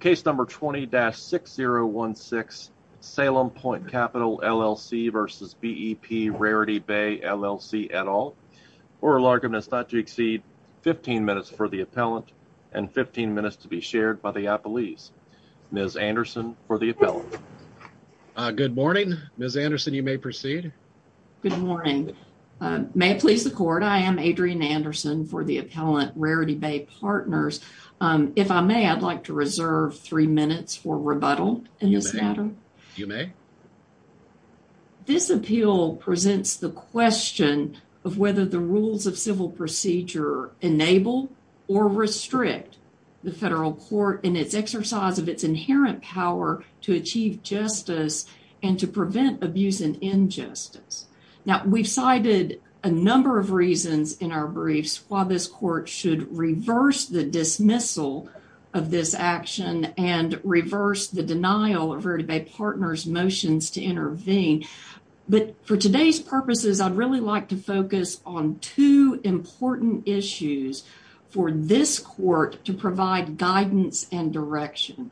Case number 20-6016 Salem Pointe Capital LLC versus BEP Rarity Bay LLC et al. Oral argument is not to exceed 15 minutes for the appellant and 15 minutes to be shared by the appellees. Ms. Anderson for the appellant. Good morning. Ms. Anderson, you may proceed. Good morning. May it please the court, I am Adrienne Anderson for the appellant Rarity Bay Partners. If I may, I'd like to reserve three minutes for rebuttal in this matter. You may. This appeal presents the question of whether the rules of civil procedure enable or restrict the federal court in its exercise of its inherent power to achieve justice and to prevent abuse and injustice. Now we've cited a number of reasons in our briefs as to why this court should reverse the dismissal of this action and reverse the denial of Rarity Bay Partners' motions to intervene. But for today's purposes, I'd really like to focus on two important issues for this court to provide guidance and direction.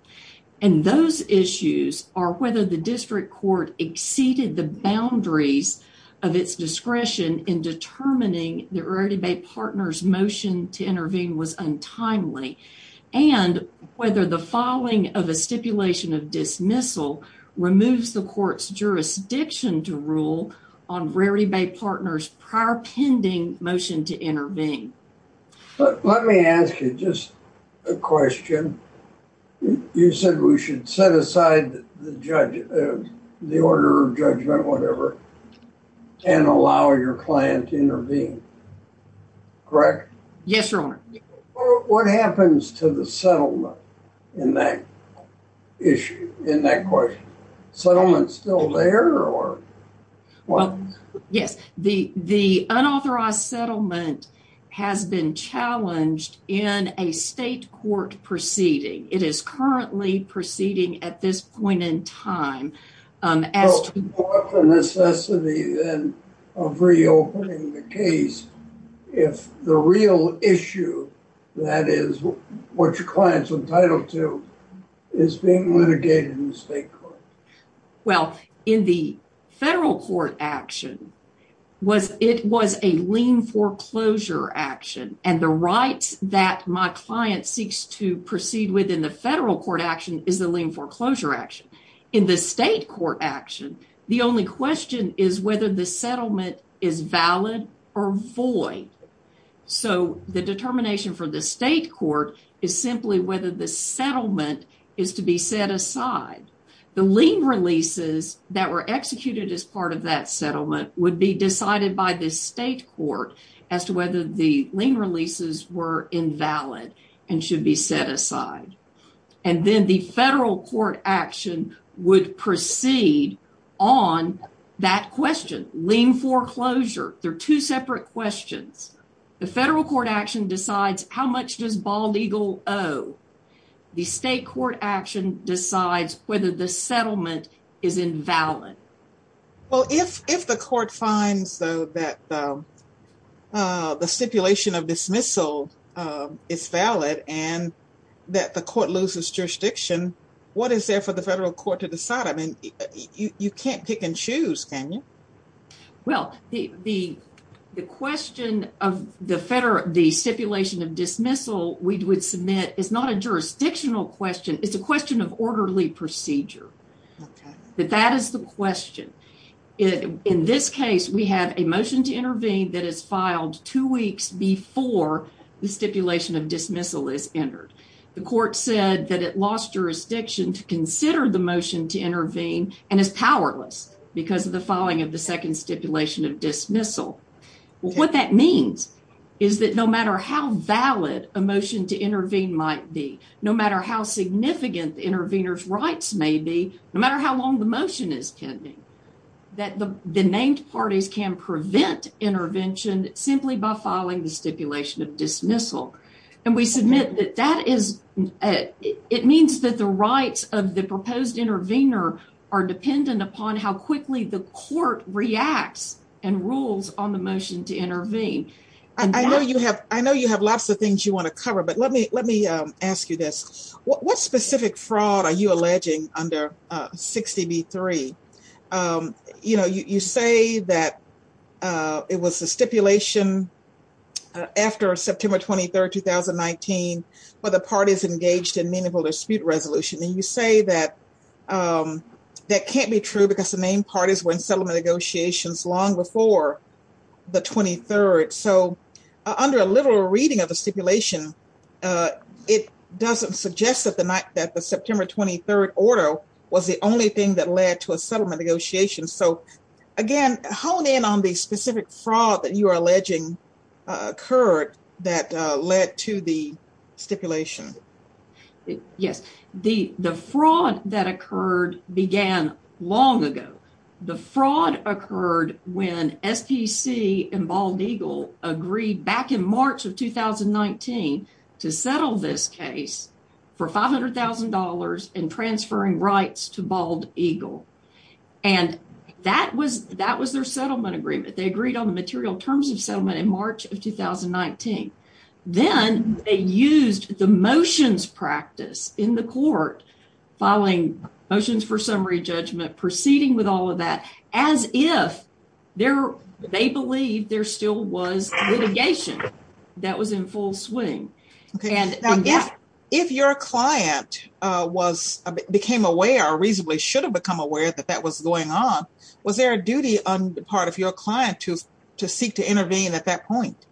And those issues are whether the district court exceeded the boundaries of its discretion in determining the Rarity Bay Partners' motion to intervene was untimely and whether the following of a stipulation of dismissal removes the court's jurisdiction to rule on Rarity Bay Partners' prior pending motion to intervene. Let me ask you just a question. You said we should set aside the order of judgment, whatever, and allow your client to intervene. Correct? Yes, your honor. What happens to the settlement in that issue, in that question? Settlement's still there or? Well, yes. The unauthorized settlement has been challenged in a state court proceeding. It is currently proceeding at this point in time. Well, what's the necessity then of reopening the case if the real issue that is what your client's entitled to is being litigated in the state court? Well, in the federal court action, it was a lien foreclosure action, and the rights that my client seeks to proceed with in the federal court action is the lien foreclosure action. In the state court action, the only question is whether the settlement is valid or void. So, the determination for the state court is simply whether the settlement is to be set aside. The lien releases that were executed as part of that settlement would be decided by the state court as to whether the settlement is valid or invalid and should be set aside. And then the federal court action would proceed on that question, lien foreclosure. They're two separate questions. The federal court action decides how much does Bald Eagle owe. The state court action decides whether the settlement is invalid. Well, if the court finds, though, that the stipulation of dismissal is valid and that the court loses jurisdiction, what is there for the federal court to decide? I mean, you can't pick and choose, can you? Well, the question of the stipulation of dismissal we would submit is not a jurisdictional question. It's a judicial question. In this case, we have a motion to intervene that is filed two weeks before the stipulation of dismissal is entered. The court said that it lost jurisdiction to consider the motion to intervene and is powerless because of the following of the second stipulation of dismissal. Well, what that means is that no matter how valid a motion to intervene might be, no matter how significant the intervener's rights may be, no matter how long the motion is pending, that the named parties can prevent intervention simply by filing the stipulation of dismissal. And we submit that it means that the rights of the proposed intervener are dependent upon how quickly the court reacts and rules on the motion to intervene. I know you have lots of things you want to cover, but let me ask you this. What specific fraud are you alleging under 60b-3? You know, you say that it was the stipulation after September 23rd, 2019 for the parties engaged in meaningful dispute resolution, and you say that that can't be true because the named parties were in settlement negotiations long before the 23rd. So under a literal reading of the stipulation, it doesn't suggest that the September 23rd order was the only thing that led to a settlement negotiation. So again, hone in on the specific fraud that you are alleging occurred that led to the stipulation. Yes, the fraud that occurred began long ago. The fraud occurred when SPC and Bald Eagle agreed back in March of 2019 to settle this case for $500,000 and transferring rights to Bald Eagle. And that was their settlement agreement. They agreed on the material terms of settlement in March of 2019. Then they used the motions practice in the court, following motions for summary judgment, proceeding with all of that, as if they believed there still was litigation that was in full swing. If your client became aware or reasonably should have become aware that that was going on, was there a duty on the part of your client to seek to intervene at that point?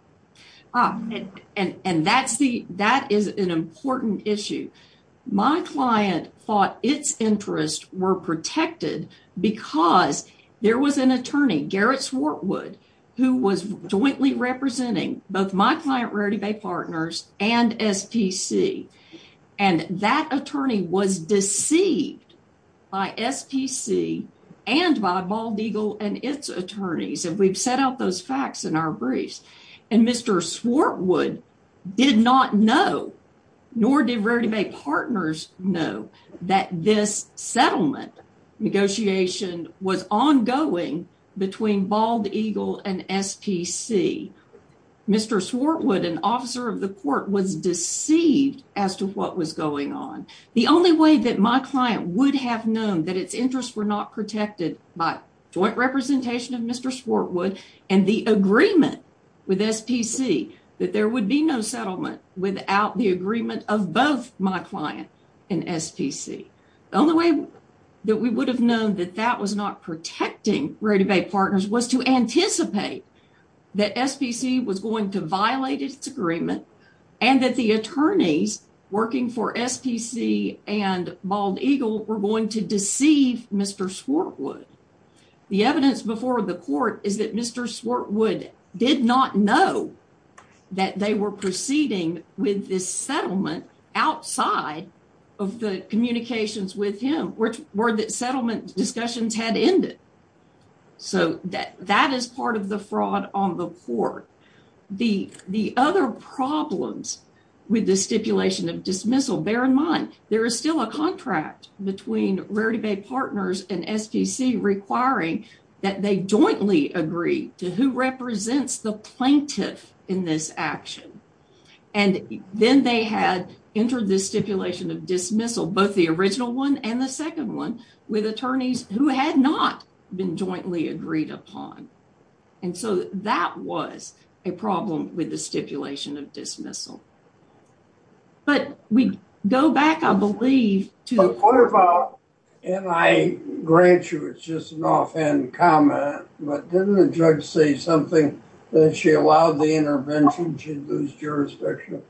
That is an important issue. My client thought its interests were protected because there was an attorney, Garrett representing both my client, Rarity Bay Partners, and SPC. And that attorney was deceived by SPC and by Bald Eagle and its attorneys. And we've set out those facts in our briefs. And Mr. Swartwood did not know, nor did Rarity Bay Partners know, that this settlement negotiation was ongoing between Bald Eagle and SPC. Mr. Swartwood, an officer of the court, was deceived as to what was going on. The only way that my client would have known that its interests were not protected by joint representation of Mr. Swartwood and the agreement with SPC, that there would be no settlement without the agreement of both my client and SPC. The only way that we would have known that that was not true, was to anticipate that SPC was going to violate its agreement and that the attorneys working for SPC and Bald Eagle were going to deceive Mr. Swartwood. The evidence before the court is that Mr. Swartwood did not know that they were proceeding with this settlement outside of the communications with him, which were that settlement discussions had ended. So that is part of the fraud on the court. The other problems with the stipulation of dismissal, bear in mind, there is still a contract between Rarity Bay Partners and SPC requiring that they jointly agree to who represents the plaintiff in this action. And then they had entered this stipulation of dismissal, both the jointly agreed upon. And so that was a problem with the stipulation of dismissal. But we go back, I believe, to what about, and I grant you it's just an offhand comment, but didn't the judge say something that if she allowed the intervention she'd lose jurisdiction?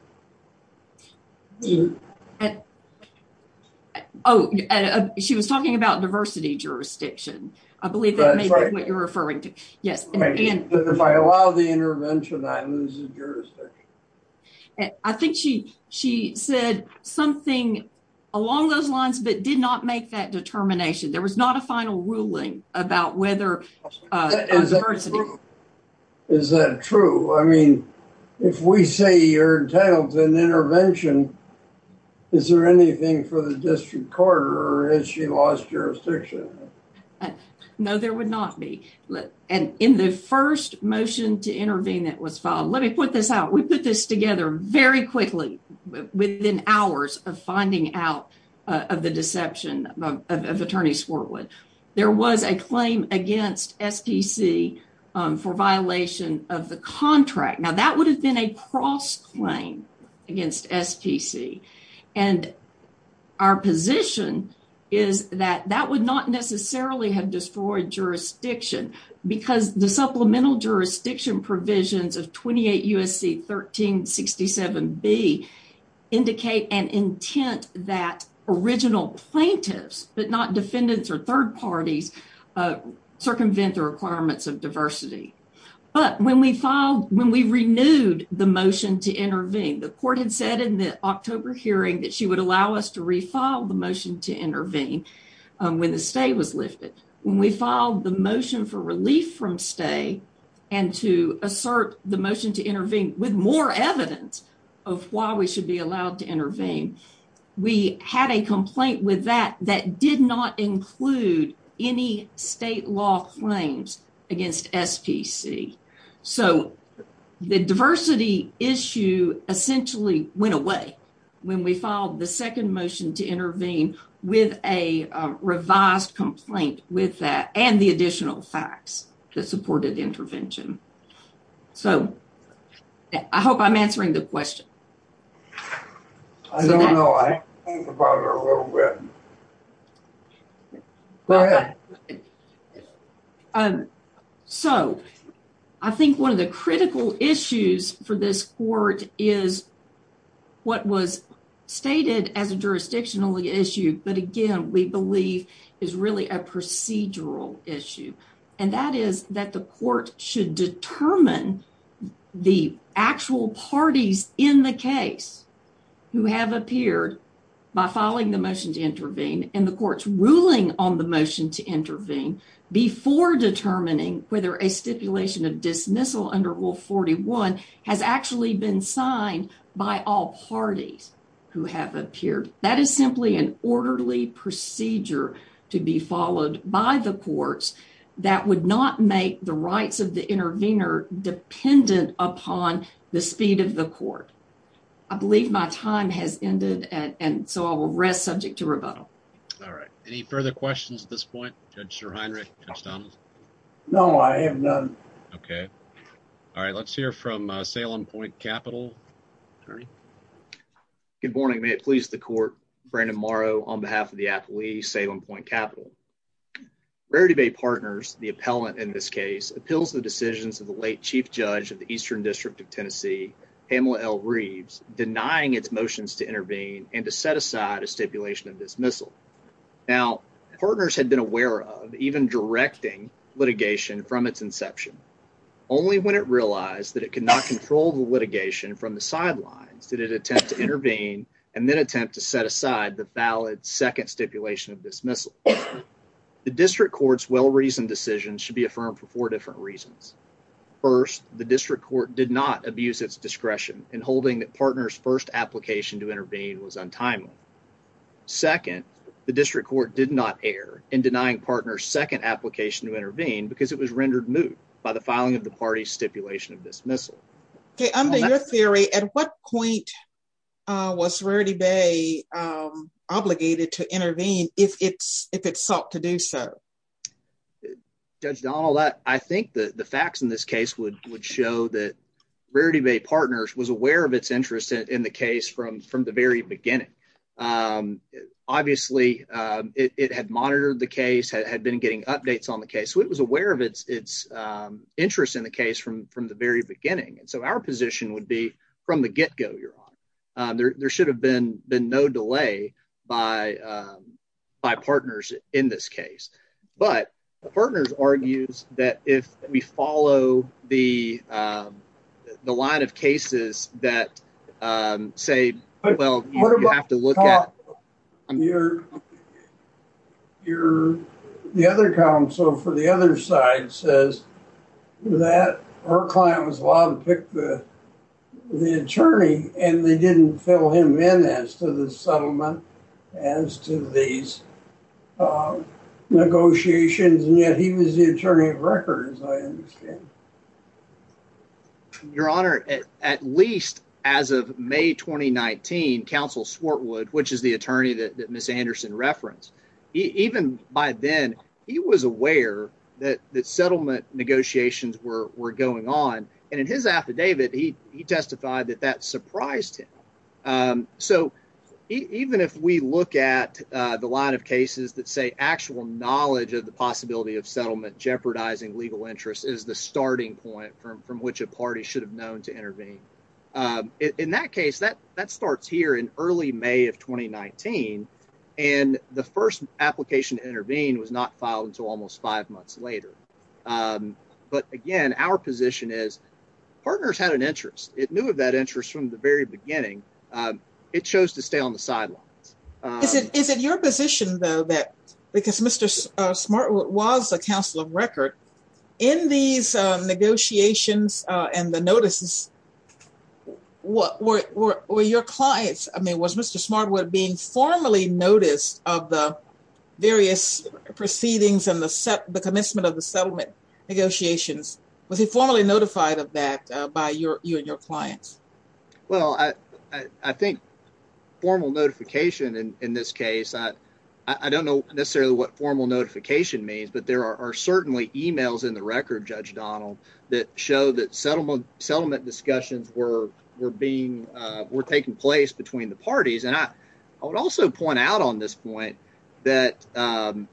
Oh, she was talking about diversity jurisdiction. I believe that may be what you're referring to. Yes, if I allow the intervention I lose the jurisdiction. I think she said something along those lines but did not make that determination. There was not a final ruling about whether... Is that true? I mean, if we say you're entitled to an intervention, is there anything for the district court or has she lost jurisdiction? No, there would not be. And in the first motion to intervene that was filed, let me put this out, we put this together very quickly within hours of finding out of the deception of Attorney Sportwood. There was a claim against SPC for violation of the contract. Now that would have been a cross claim against SPC. And our position is that that would not necessarily have destroyed jurisdiction because the supplemental jurisdiction provisions of 28 U.S.C. 1367b indicate an intent that original plaintiffs, but not defendants or third parties, circumvent the requirements of diversity. But when we renewed the motion to intervene, the court had said in the October hearing that she would allow us to refile the motion to intervene when the stay was lifted. When we filed the motion for relief from stay and to assert the motion to intervene with more evidence of why we should be allowed to intervene, we had a complaint with that that did not include any state law claims against SPC. So the diversity issue essentially went away when we filed the second motion to intervene with a revised complaint with that and the additional facts that supported intervention. So I hope I'm answering the question. I don't know. I think about it a little bit. Go ahead. So I think one of the critical issues for this court is what was stated as a jurisdictional issue, but again we believe is really a procedural issue. And that is that the court should determine the actual parties in the case who have appeared by filing the motion to intervene and the court's ruling on the motion to intervene before determining whether a stipulation of dismissal under Rule 41 has actually been signed by all parties who have appeared. That is simply an orderly procedure to be followed by the courts that would not make the rights of the intervener dependent upon the speed of the court. I believe my time has ended and so I will rest subject to rebuttal. All right. Any further questions at this point? Judge Sir Heinrich? Judge Donald? No. I have none. Okay. All right. Let's hear from Salem Point Capital. Attorney. Good morning. May it please the court. Brandon Morrow on behalf of the athlete Salem Point Capital. Rarity Bay Partners, the appellant in this case, appeals the decisions of the late Chief Judge of the Eastern District of Tennessee, Pamela L. Reeves, denying its motions to intervene and to set aside a stipulation of dismissal. Now, Partners had been aware of even directing litigation from its inception only when it realized that it could not control the litigation from the sidelines did it attempt to intervene and then attempt to set aside the valid second stipulation of dismissal. The district court's well-reasoned decision should be affirmed for four different reasons. First, the district court did not abuse its discretion in holding that Partners' first application to intervene was untimely. Second, the district court did not err in denying Partners' second application to intervene because it was rendered moot by the filing of the party's stipulation of dismissal. Okay. Under your theory, at what point was Rarity Bay obligated to intervene if it sought to do so? Judge Donald, I think that the facts in this case would show that Rarity Bay Partners was aware of its interest in the case from the very beginning. Obviously, it had monitored the case, had been getting updates on the case, so it was aware of its interest in the case from the very beginning, and so our position would be from the get-go you're on. There should have been been no delay by Partners in this case, but Partners argues that if we follow the line of cases that say, well, you have to look at your, the other counsel for the other side says that her client was allowed to pick the the attorney and they didn't fill him in as to the settlement as to these negotiations, and yet he was the attorney of record, as I understand. Your Honor, at least as of May 2019, Counsel Swartwood, which is the attorney that Ms. Anderson referenced, even by then, he was aware that settlement negotiations were going on, and in his affidavit, he testified that that surprised him. So even if we look at the line of cases that say actual knowledge of the possibility of settlement jeopardizing legal interest is the starting point from which a party should have known to intervene. In that case, that starts here in early May of 2019, and the first application to later. But again, our position is Partners had an interest. It knew of that interest from the very beginning. It chose to stay on the sidelines. Is it your position, though, that because Mr. Swartwood was a counsel of record, in these negotiations and the notices, were your clients, I mean, was Mr. Swartwood being formally noticed of the various proceedings and the commencement of the settlement negotiations? Was he formally notified of that by you and your clients? Well, I think formal notification in this case, I don't know necessarily what formal notification means, but there are certainly emails in the record, Judge Donald, that show that settlement discussions were taking place between the parties, and I would also point out on this point that, and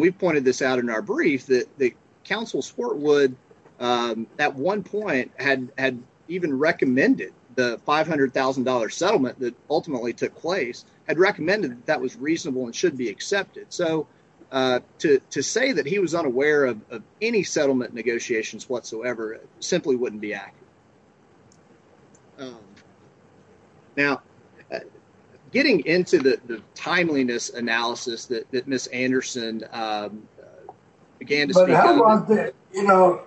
we pointed this out in our brief, that the counsel, Swartwood, at one point had even recommended the $500,000 settlement that ultimately took place, had recommended that was reasonable and should be accepted. So to say that he was unaware of any settlement negotiations whatsoever simply wouldn't be accurate. Now, getting into the timeliness analysis that that Ms. Anderson began to speak about. You know,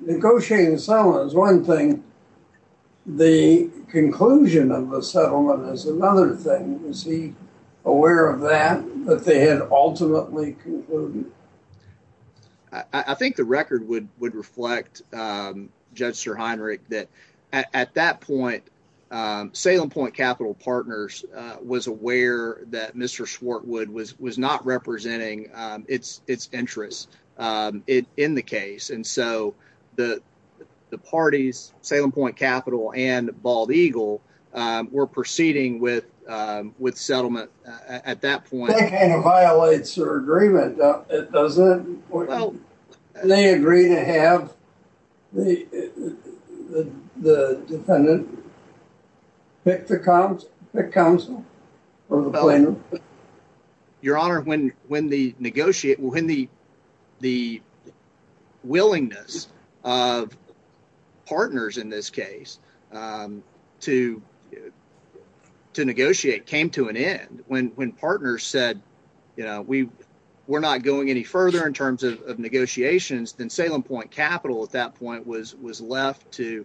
negotiating the settlement is one thing, the conclusion of the settlement is another thing. Was he aware of that, that they had ultimately concluded? I think the record would reflect, Judge Sir Heinrich, that at that point, Salem Point Capital Partners was aware that Mr. Swartwood was not representing its interests in the case, and so the parties, Salem Point Capital and Bald Eagle, were proceeding with settlement at that point. That kind of violates your agreement, doesn't it? They agree to have the defendant pick the counsel, or the planner. Your Honor, when the negotiate, when the willingness of partners in this case to negotiate came to an end, when partners said, you know, we're not going any further in terms of negotiations, then Salem Point Capital at that point was left to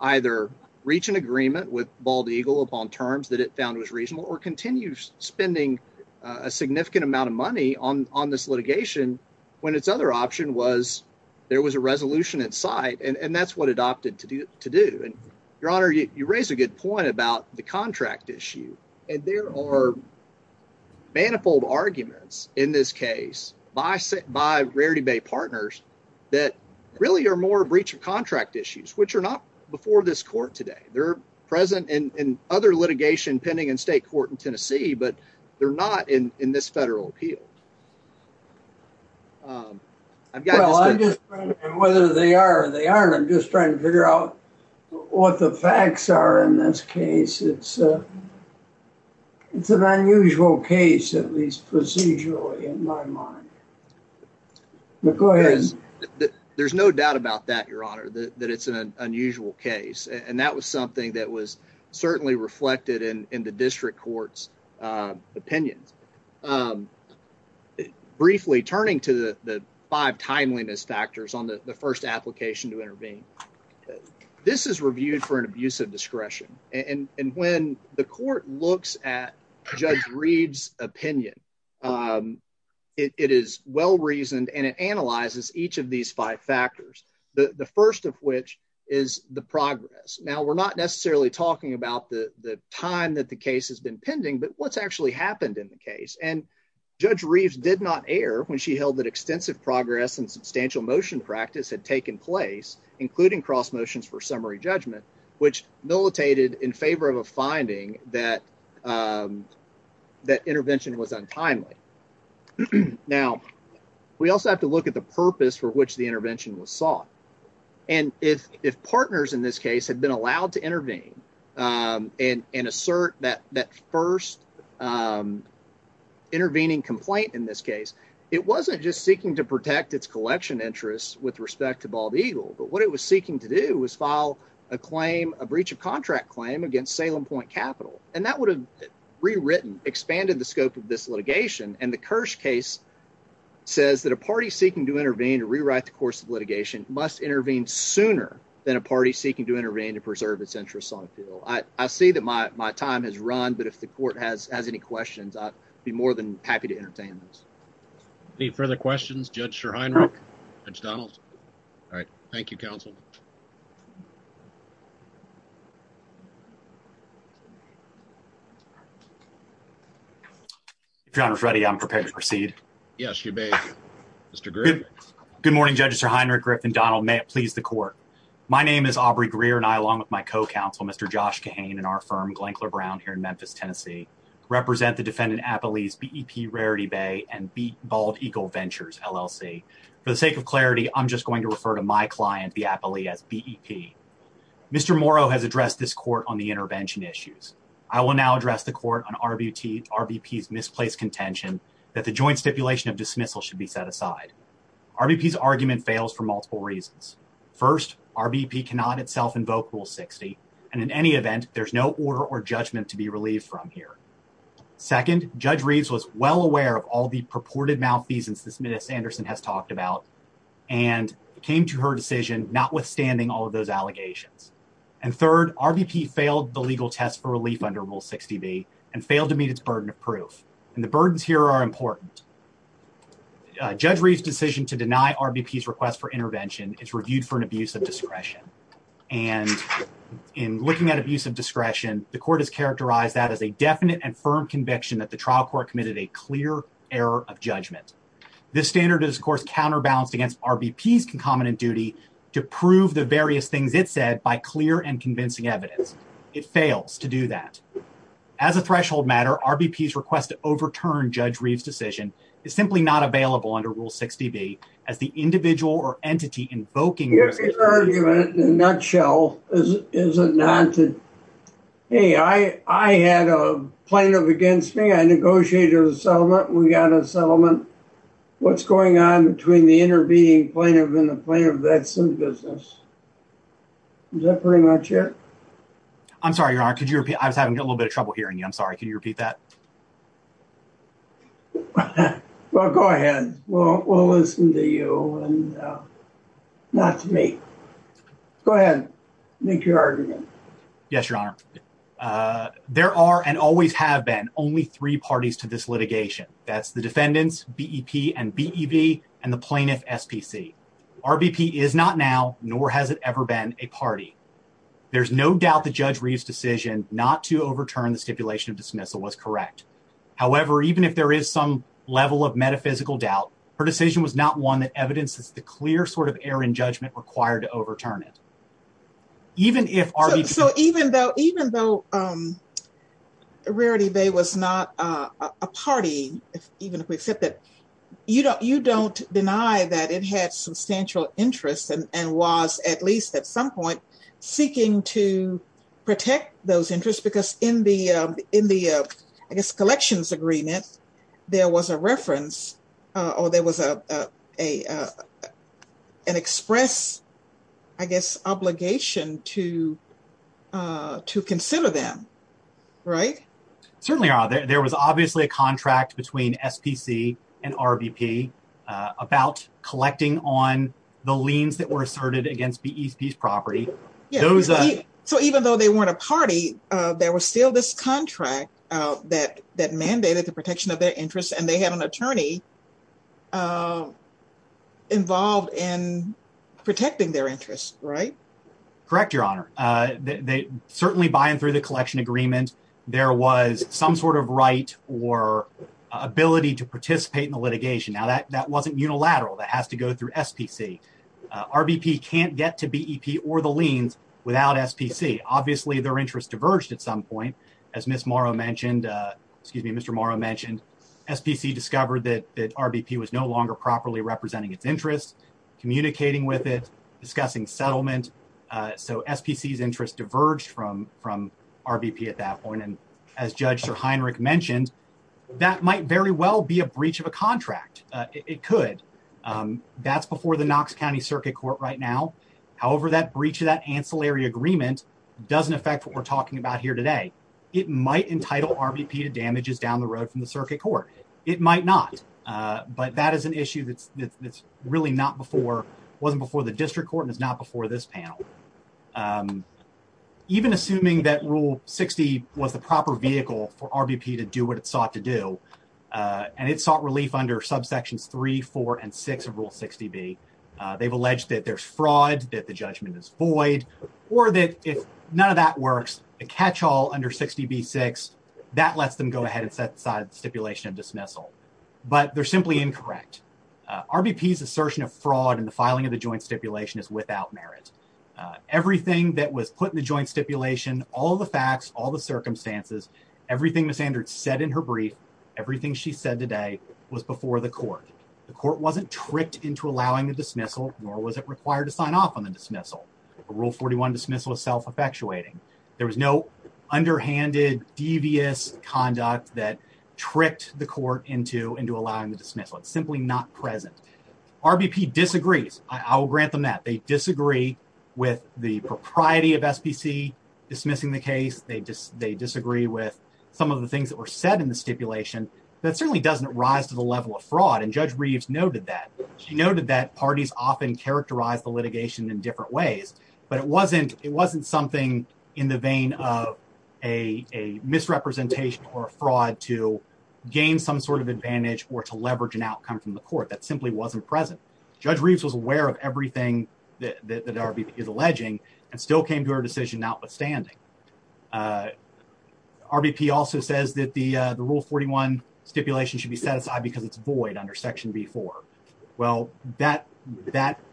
either reach an agreement with Bald Eagle upon terms that it found was reasonable, or continue spending a significant amount of money on this litigation, when its other option was there was a resolution in sight, and that's what it opted to do. Your Honor, you raise a good point about the contract issue, and there are manifold arguments in this case by Rarity Bay Partners that really are more breach of contract issues, which are not before this court today. They're present in other litigation pending in state court in Tennessee, but they're not in this federal appeal. I'm just trying to figure out what the facts are in this case. It's an unusual case, at least procedurally in my mind, but go ahead. There's no doubt about that, Your Honor, that it's an unusual case, and that was something that was certainly reflected in the district court's opinions. Briefly, turning to the five timeliness factors on the first application to for an abuse of discretion, and when the court looks at Judge Reeves' opinion, it is well-reasoned, and it analyzes each of these five factors, the first of which is the progress. Now, we're not necessarily talking about the time that the case has been pending, but what's actually happened in the case, and Judge Reeves did not err when she held that extensive progress and substantial motion practice had taken place, including cross motions for summary judgment, which militated in favor of a finding that intervention was untimely. Now, we also have to look at the purpose for which the intervention was sought, and if partners in this case had been allowed to intervene and assert that first intervening complaint in this case, it wasn't just seeking to protect its collection interests with respect to Bald Eagle, but what it was seeking to do was file a breach of contract claim against Salem Point Capital, and that would have rewritten, expanded the scope of this litigation, and the Kirsch case says that a party seeking to intervene to rewrite the course of litigation must intervene sooner than a party seeking to intervene to preserve its interests on appeal. I see that my time has run, but if the court has any questions, I'd be more than happy to entertain those. Any further questions? Judge Schorheinrich? Judge Donaldson? All right, thank you, counsel. Your Honor, if ready, I'm prepared to proceed. Yes, you may. Mr. Griffith? Good morning, Judges Schorheinrich, Griffith, and Donald. May it please the court. My name is Aubrey Greer, and I, along with my co-counsel, Mr. Josh Kahane, and our firm, Glencler Brown, here in Memphis, Tennessee, represent the defendant Appalese BEP Rarity Bay and Bald Eagle Ventures, LLC. For the sake of clarity, I'm just going to refer to my client, the Appalese, as BEP. Mr. Morrow has addressed this court on the intervention issues. I will now address the court on RBP's misplaced contention that the joint stipulation of dismissal should be set aside. RBP's argument fails for multiple reasons. First, RBP cannot itself invoke Rule 60, and in any event, there's no order or judgment to be relieved from here. Second, Judge Reeves was well aware of all the purported malfeasance that came to her decision, notwithstanding all of those allegations. And third, RBP failed the legal test for relief under Rule 60B and failed to meet its burden of proof, and the burdens here are important. Judge Reeves' decision to deny RBP's request for intervention is reviewed for an abuse of discretion, and in looking at abuse of discretion, the court has characterized that as a definite and firm conviction that the trial court committed a clear error of judgment. This standard is, of course, RBP's concomitant duty to prove the various things it said by clear and convincing evidence. It fails to do that. As a threshold matter, RBP's request to overturn Judge Reeves' decision is simply not available under Rule 60B as the individual or entity invoking... Your argument, in a nutshell, is a nod to, hey, I had a plaintiff against me, I negotiated a settlement, we got a plaintiff and a plaintiff that's in business. Is that pretty much it? I'm sorry, Your Honor, could you repeat? I was having a little bit of trouble hearing you. I'm sorry. Can you repeat that? Well, go ahead. We'll listen to you and not to me. Go ahead. Make your argument. Yes, Your Honor. There are and always have been only three parties to this litigation. That's the defendants, BEP and BEB, and the plaintiff, SPC. RBP is not now nor has it ever been a party. There's no doubt that Judge Reeves' decision not to overturn the stipulation of dismissal was correct. However, even if there is some level of metaphysical doubt, her decision was not one that evidences the clear sort of error in judgment required to overturn it. Even if RBP... So even though Rarity Bay was not a party, even if we accept that, you don't deny that it had substantial interest and was, at least at some point, seeking to protect those interests because in the, I guess, collections agreement, there was a reference or there was an express, I guess, obligation to consider them, right? Certainly, Your Honor. There was obviously a contract between SPC and RBP about collecting on the liens that were asserted against BEP's property. So even though they weren't a party, there was still this contract that mandated the protection of their interests, and they had an attorney involved in protecting their interests, right? Correct, Your Honor. Certainly, by and through the collection agreement, there was some sort of right or ability to participate in the litigation. Now, that wasn't unilateral. That has to go through SPC. RBP can't get to BEP or the liens without SPC. Obviously, their interests diverged at some point. As Ms. Morrow mentioned, excuse me, Mr. Morrow mentioned, SPC discovered that RBP was no longer properly representing its interests, communicating with it, discussing settlement. So SPC's interests diverged from RBP at that point, and as Judge Sir Heinrich mentioned, that might very well be a breach of a contract. It could. That's before the Knox County Circuit Court right now. However, that breach of that ancillary agreement doesn't affect what we're talking about here today. It might entitle RBP to damages down the road from the Circuit Court. It might not, but that is an issue that's really not before, wasn't before the District Court, and it's not before this panel. Even assuming that Rule 60 was the proper vehicle for RBP to do what it sought to do, and it sought relief under subsections 3, 4, and 6 of Rule 60B, they've alleged that there's fraud, that the judgment is void, or that if none of that works, a catch-all under 60B-6, that lets them go ahead and set aside stipulation of dismissal. But they're simply incorrect. RBP's assertion of fraud in the filing of the everything that was put in the joint stipulation, all the facts, all the circumstances, everything Ms. Andert said in her brief, everything she said today was before the court. The court wasn't tricked into allowing the dismissal, nor was it required to sign off on the dismissal. The Rule 41 dismissal is self-effectuating. There was no underhanded, devious conduct that tricked the court into allowing the dismissal. It's simply not present. RBP disagrees. I will grant them that. They disagree with the propriety of SPC dismissing the case. They disagree with some of the things that were said in the stipulation. That certainly doesn't rise to the level of fraud, and Judge Reeves noted that. She noted that parties often characterize the litigation in different ways, but it wasn't something in the vein of a misrepresentation or a fraud to gain some sort of advantage or to present. Judge Reeves was aware of everything that RBP is alleging and still came to her decision notwithstanding. RBP also says that the Rule 41 stipulation should be set aside because it's void under Section B4. Well, that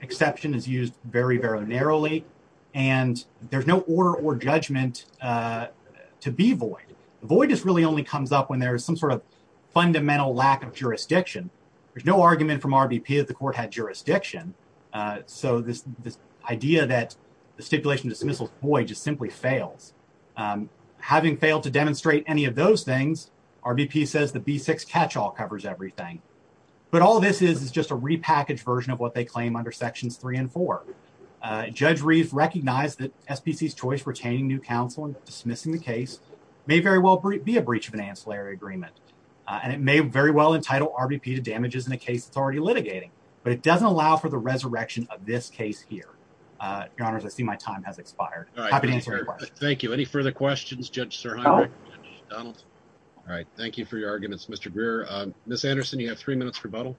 exception is used very, very narrowly, and there's no order or judgment to be void. Void just really only comes up when there is some sort of jurisdiction, so this idea that the stipulation dismissal is void just simply fails. Having failed to demonstrate any of those things, RBP says the B6 catch-all covers everything, but all this is is just a repackaged version of what they claim under Sections 3 and 4. Judge Reeves recognized that SPC's choice retaining new counsel and dismissing the case may very well be a breach of an ancillary agreement, and it may very well entitle RBP to a case it's already litigating, but it doesn't allow for the resurrection of this case here. Your Honors, I see my time has expired. All right, thank you. Any further questions, Judge SirHeinberg, Judge Donaldson? All right, thank you for your arguments, Mr. Greer. Ms. Anderson, you have three minutes for rebuttal.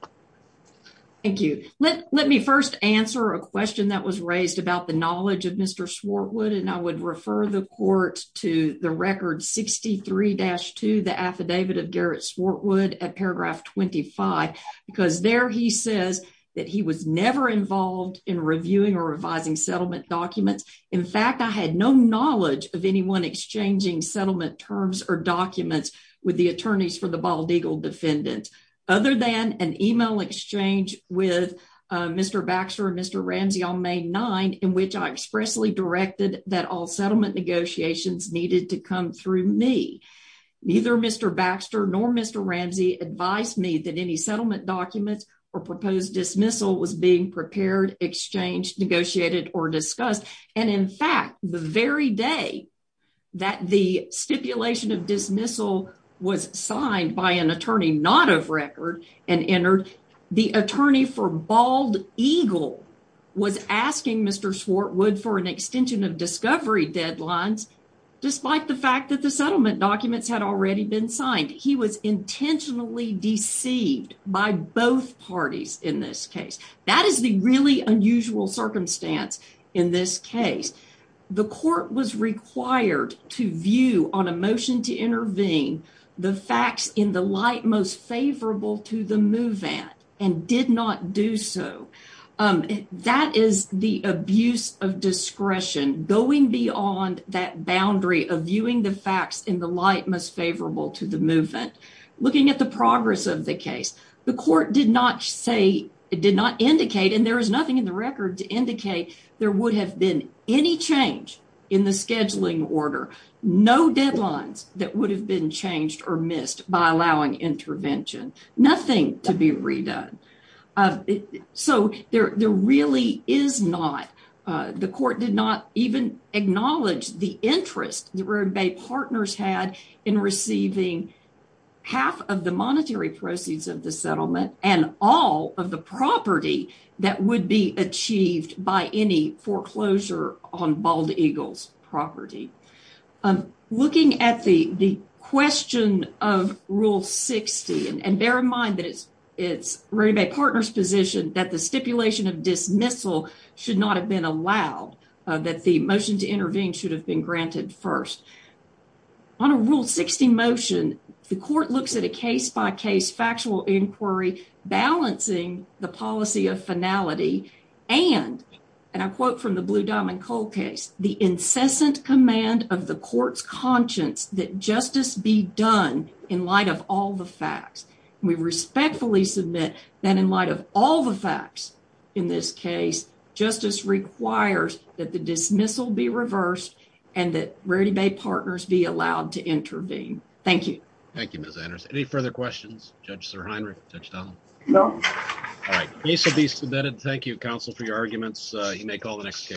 Thank you. Let me first answer a question that was raised about the knowledge of Mr. Swartwood, and I would refer the Court to the Record 63-2, the Affidavit of Eric Swartwood at paragraph 25, because there he says that he was never involved in reviewing or revising settlement documents. In fact, I had no knowledge of anyone exchanging settlement terms or documents with the attorneys for the Bald Eagle defendant, other than an email exchange with Mr. Baxter and Mr. Ramsey on May 9, in which I expressly directed that all settlement negotiations needed to come through me. Neither Mr. Baxter nor Mr. Ramsey advised me that any settlement documents or proposed dismissal was being prepared, exchanged, negotiated, or discussed. And in fact, the very day that the stipulation of dismissal was signed by an attorney not of record and entered, the attorney for Bald Eagle was asking Mr. Swartwood for an extension of discovery deadlines, despite the fact that the settlement documents had already been signed. He was intentionally deceived by both parties in this case. That is the really unusual circumstance in this case. The Court was required to view on a motion to intervene the facts in the light most favorable to the move-in and did not do so. That is the abuse of discretion going beyond that boundary of viewing the facts in the light most favorable to the move-in. Looking at the progress of the case, the Court did not say, did not indicate, and there is nothing in the record to indicate, there would have been any change in the scheduling order, no deadlines that would have been changed or missed by allowing intervention, nothing to be redone. So there really is not, the Court did not even acknowledge the interest that Raribay Partners had in receiving half of the monetary proceeds of the settlement and all of the property that would be achieved by any foreclosure on Bald Eagle's property. Looking at the question of Rule 60, and bear in mind that it's Raribay Partners' position that the stipulation of dismissal should not have been allowed, that the motion to intervene should have been granted first. On a Rule 60 motion, the Court looks at a case-by-case factual inquiry balancing the policy of finality and, and I quote from the Blue Diamond Coal case, the incessant command of the Court's conscience that justice be done in light of all the facts. We respectfully submit that in light of all the facts in this case, justice requires that the dismissal be reversed and that Raribay Partners be allowed to intervene. Thank you. Thank you, Ms. Anders. Any further questions? Judge Sir Heinrich? Judge Donnell? No. All right. Case will be submitted. Thank you, counsel, for your arguments. You may call the next case.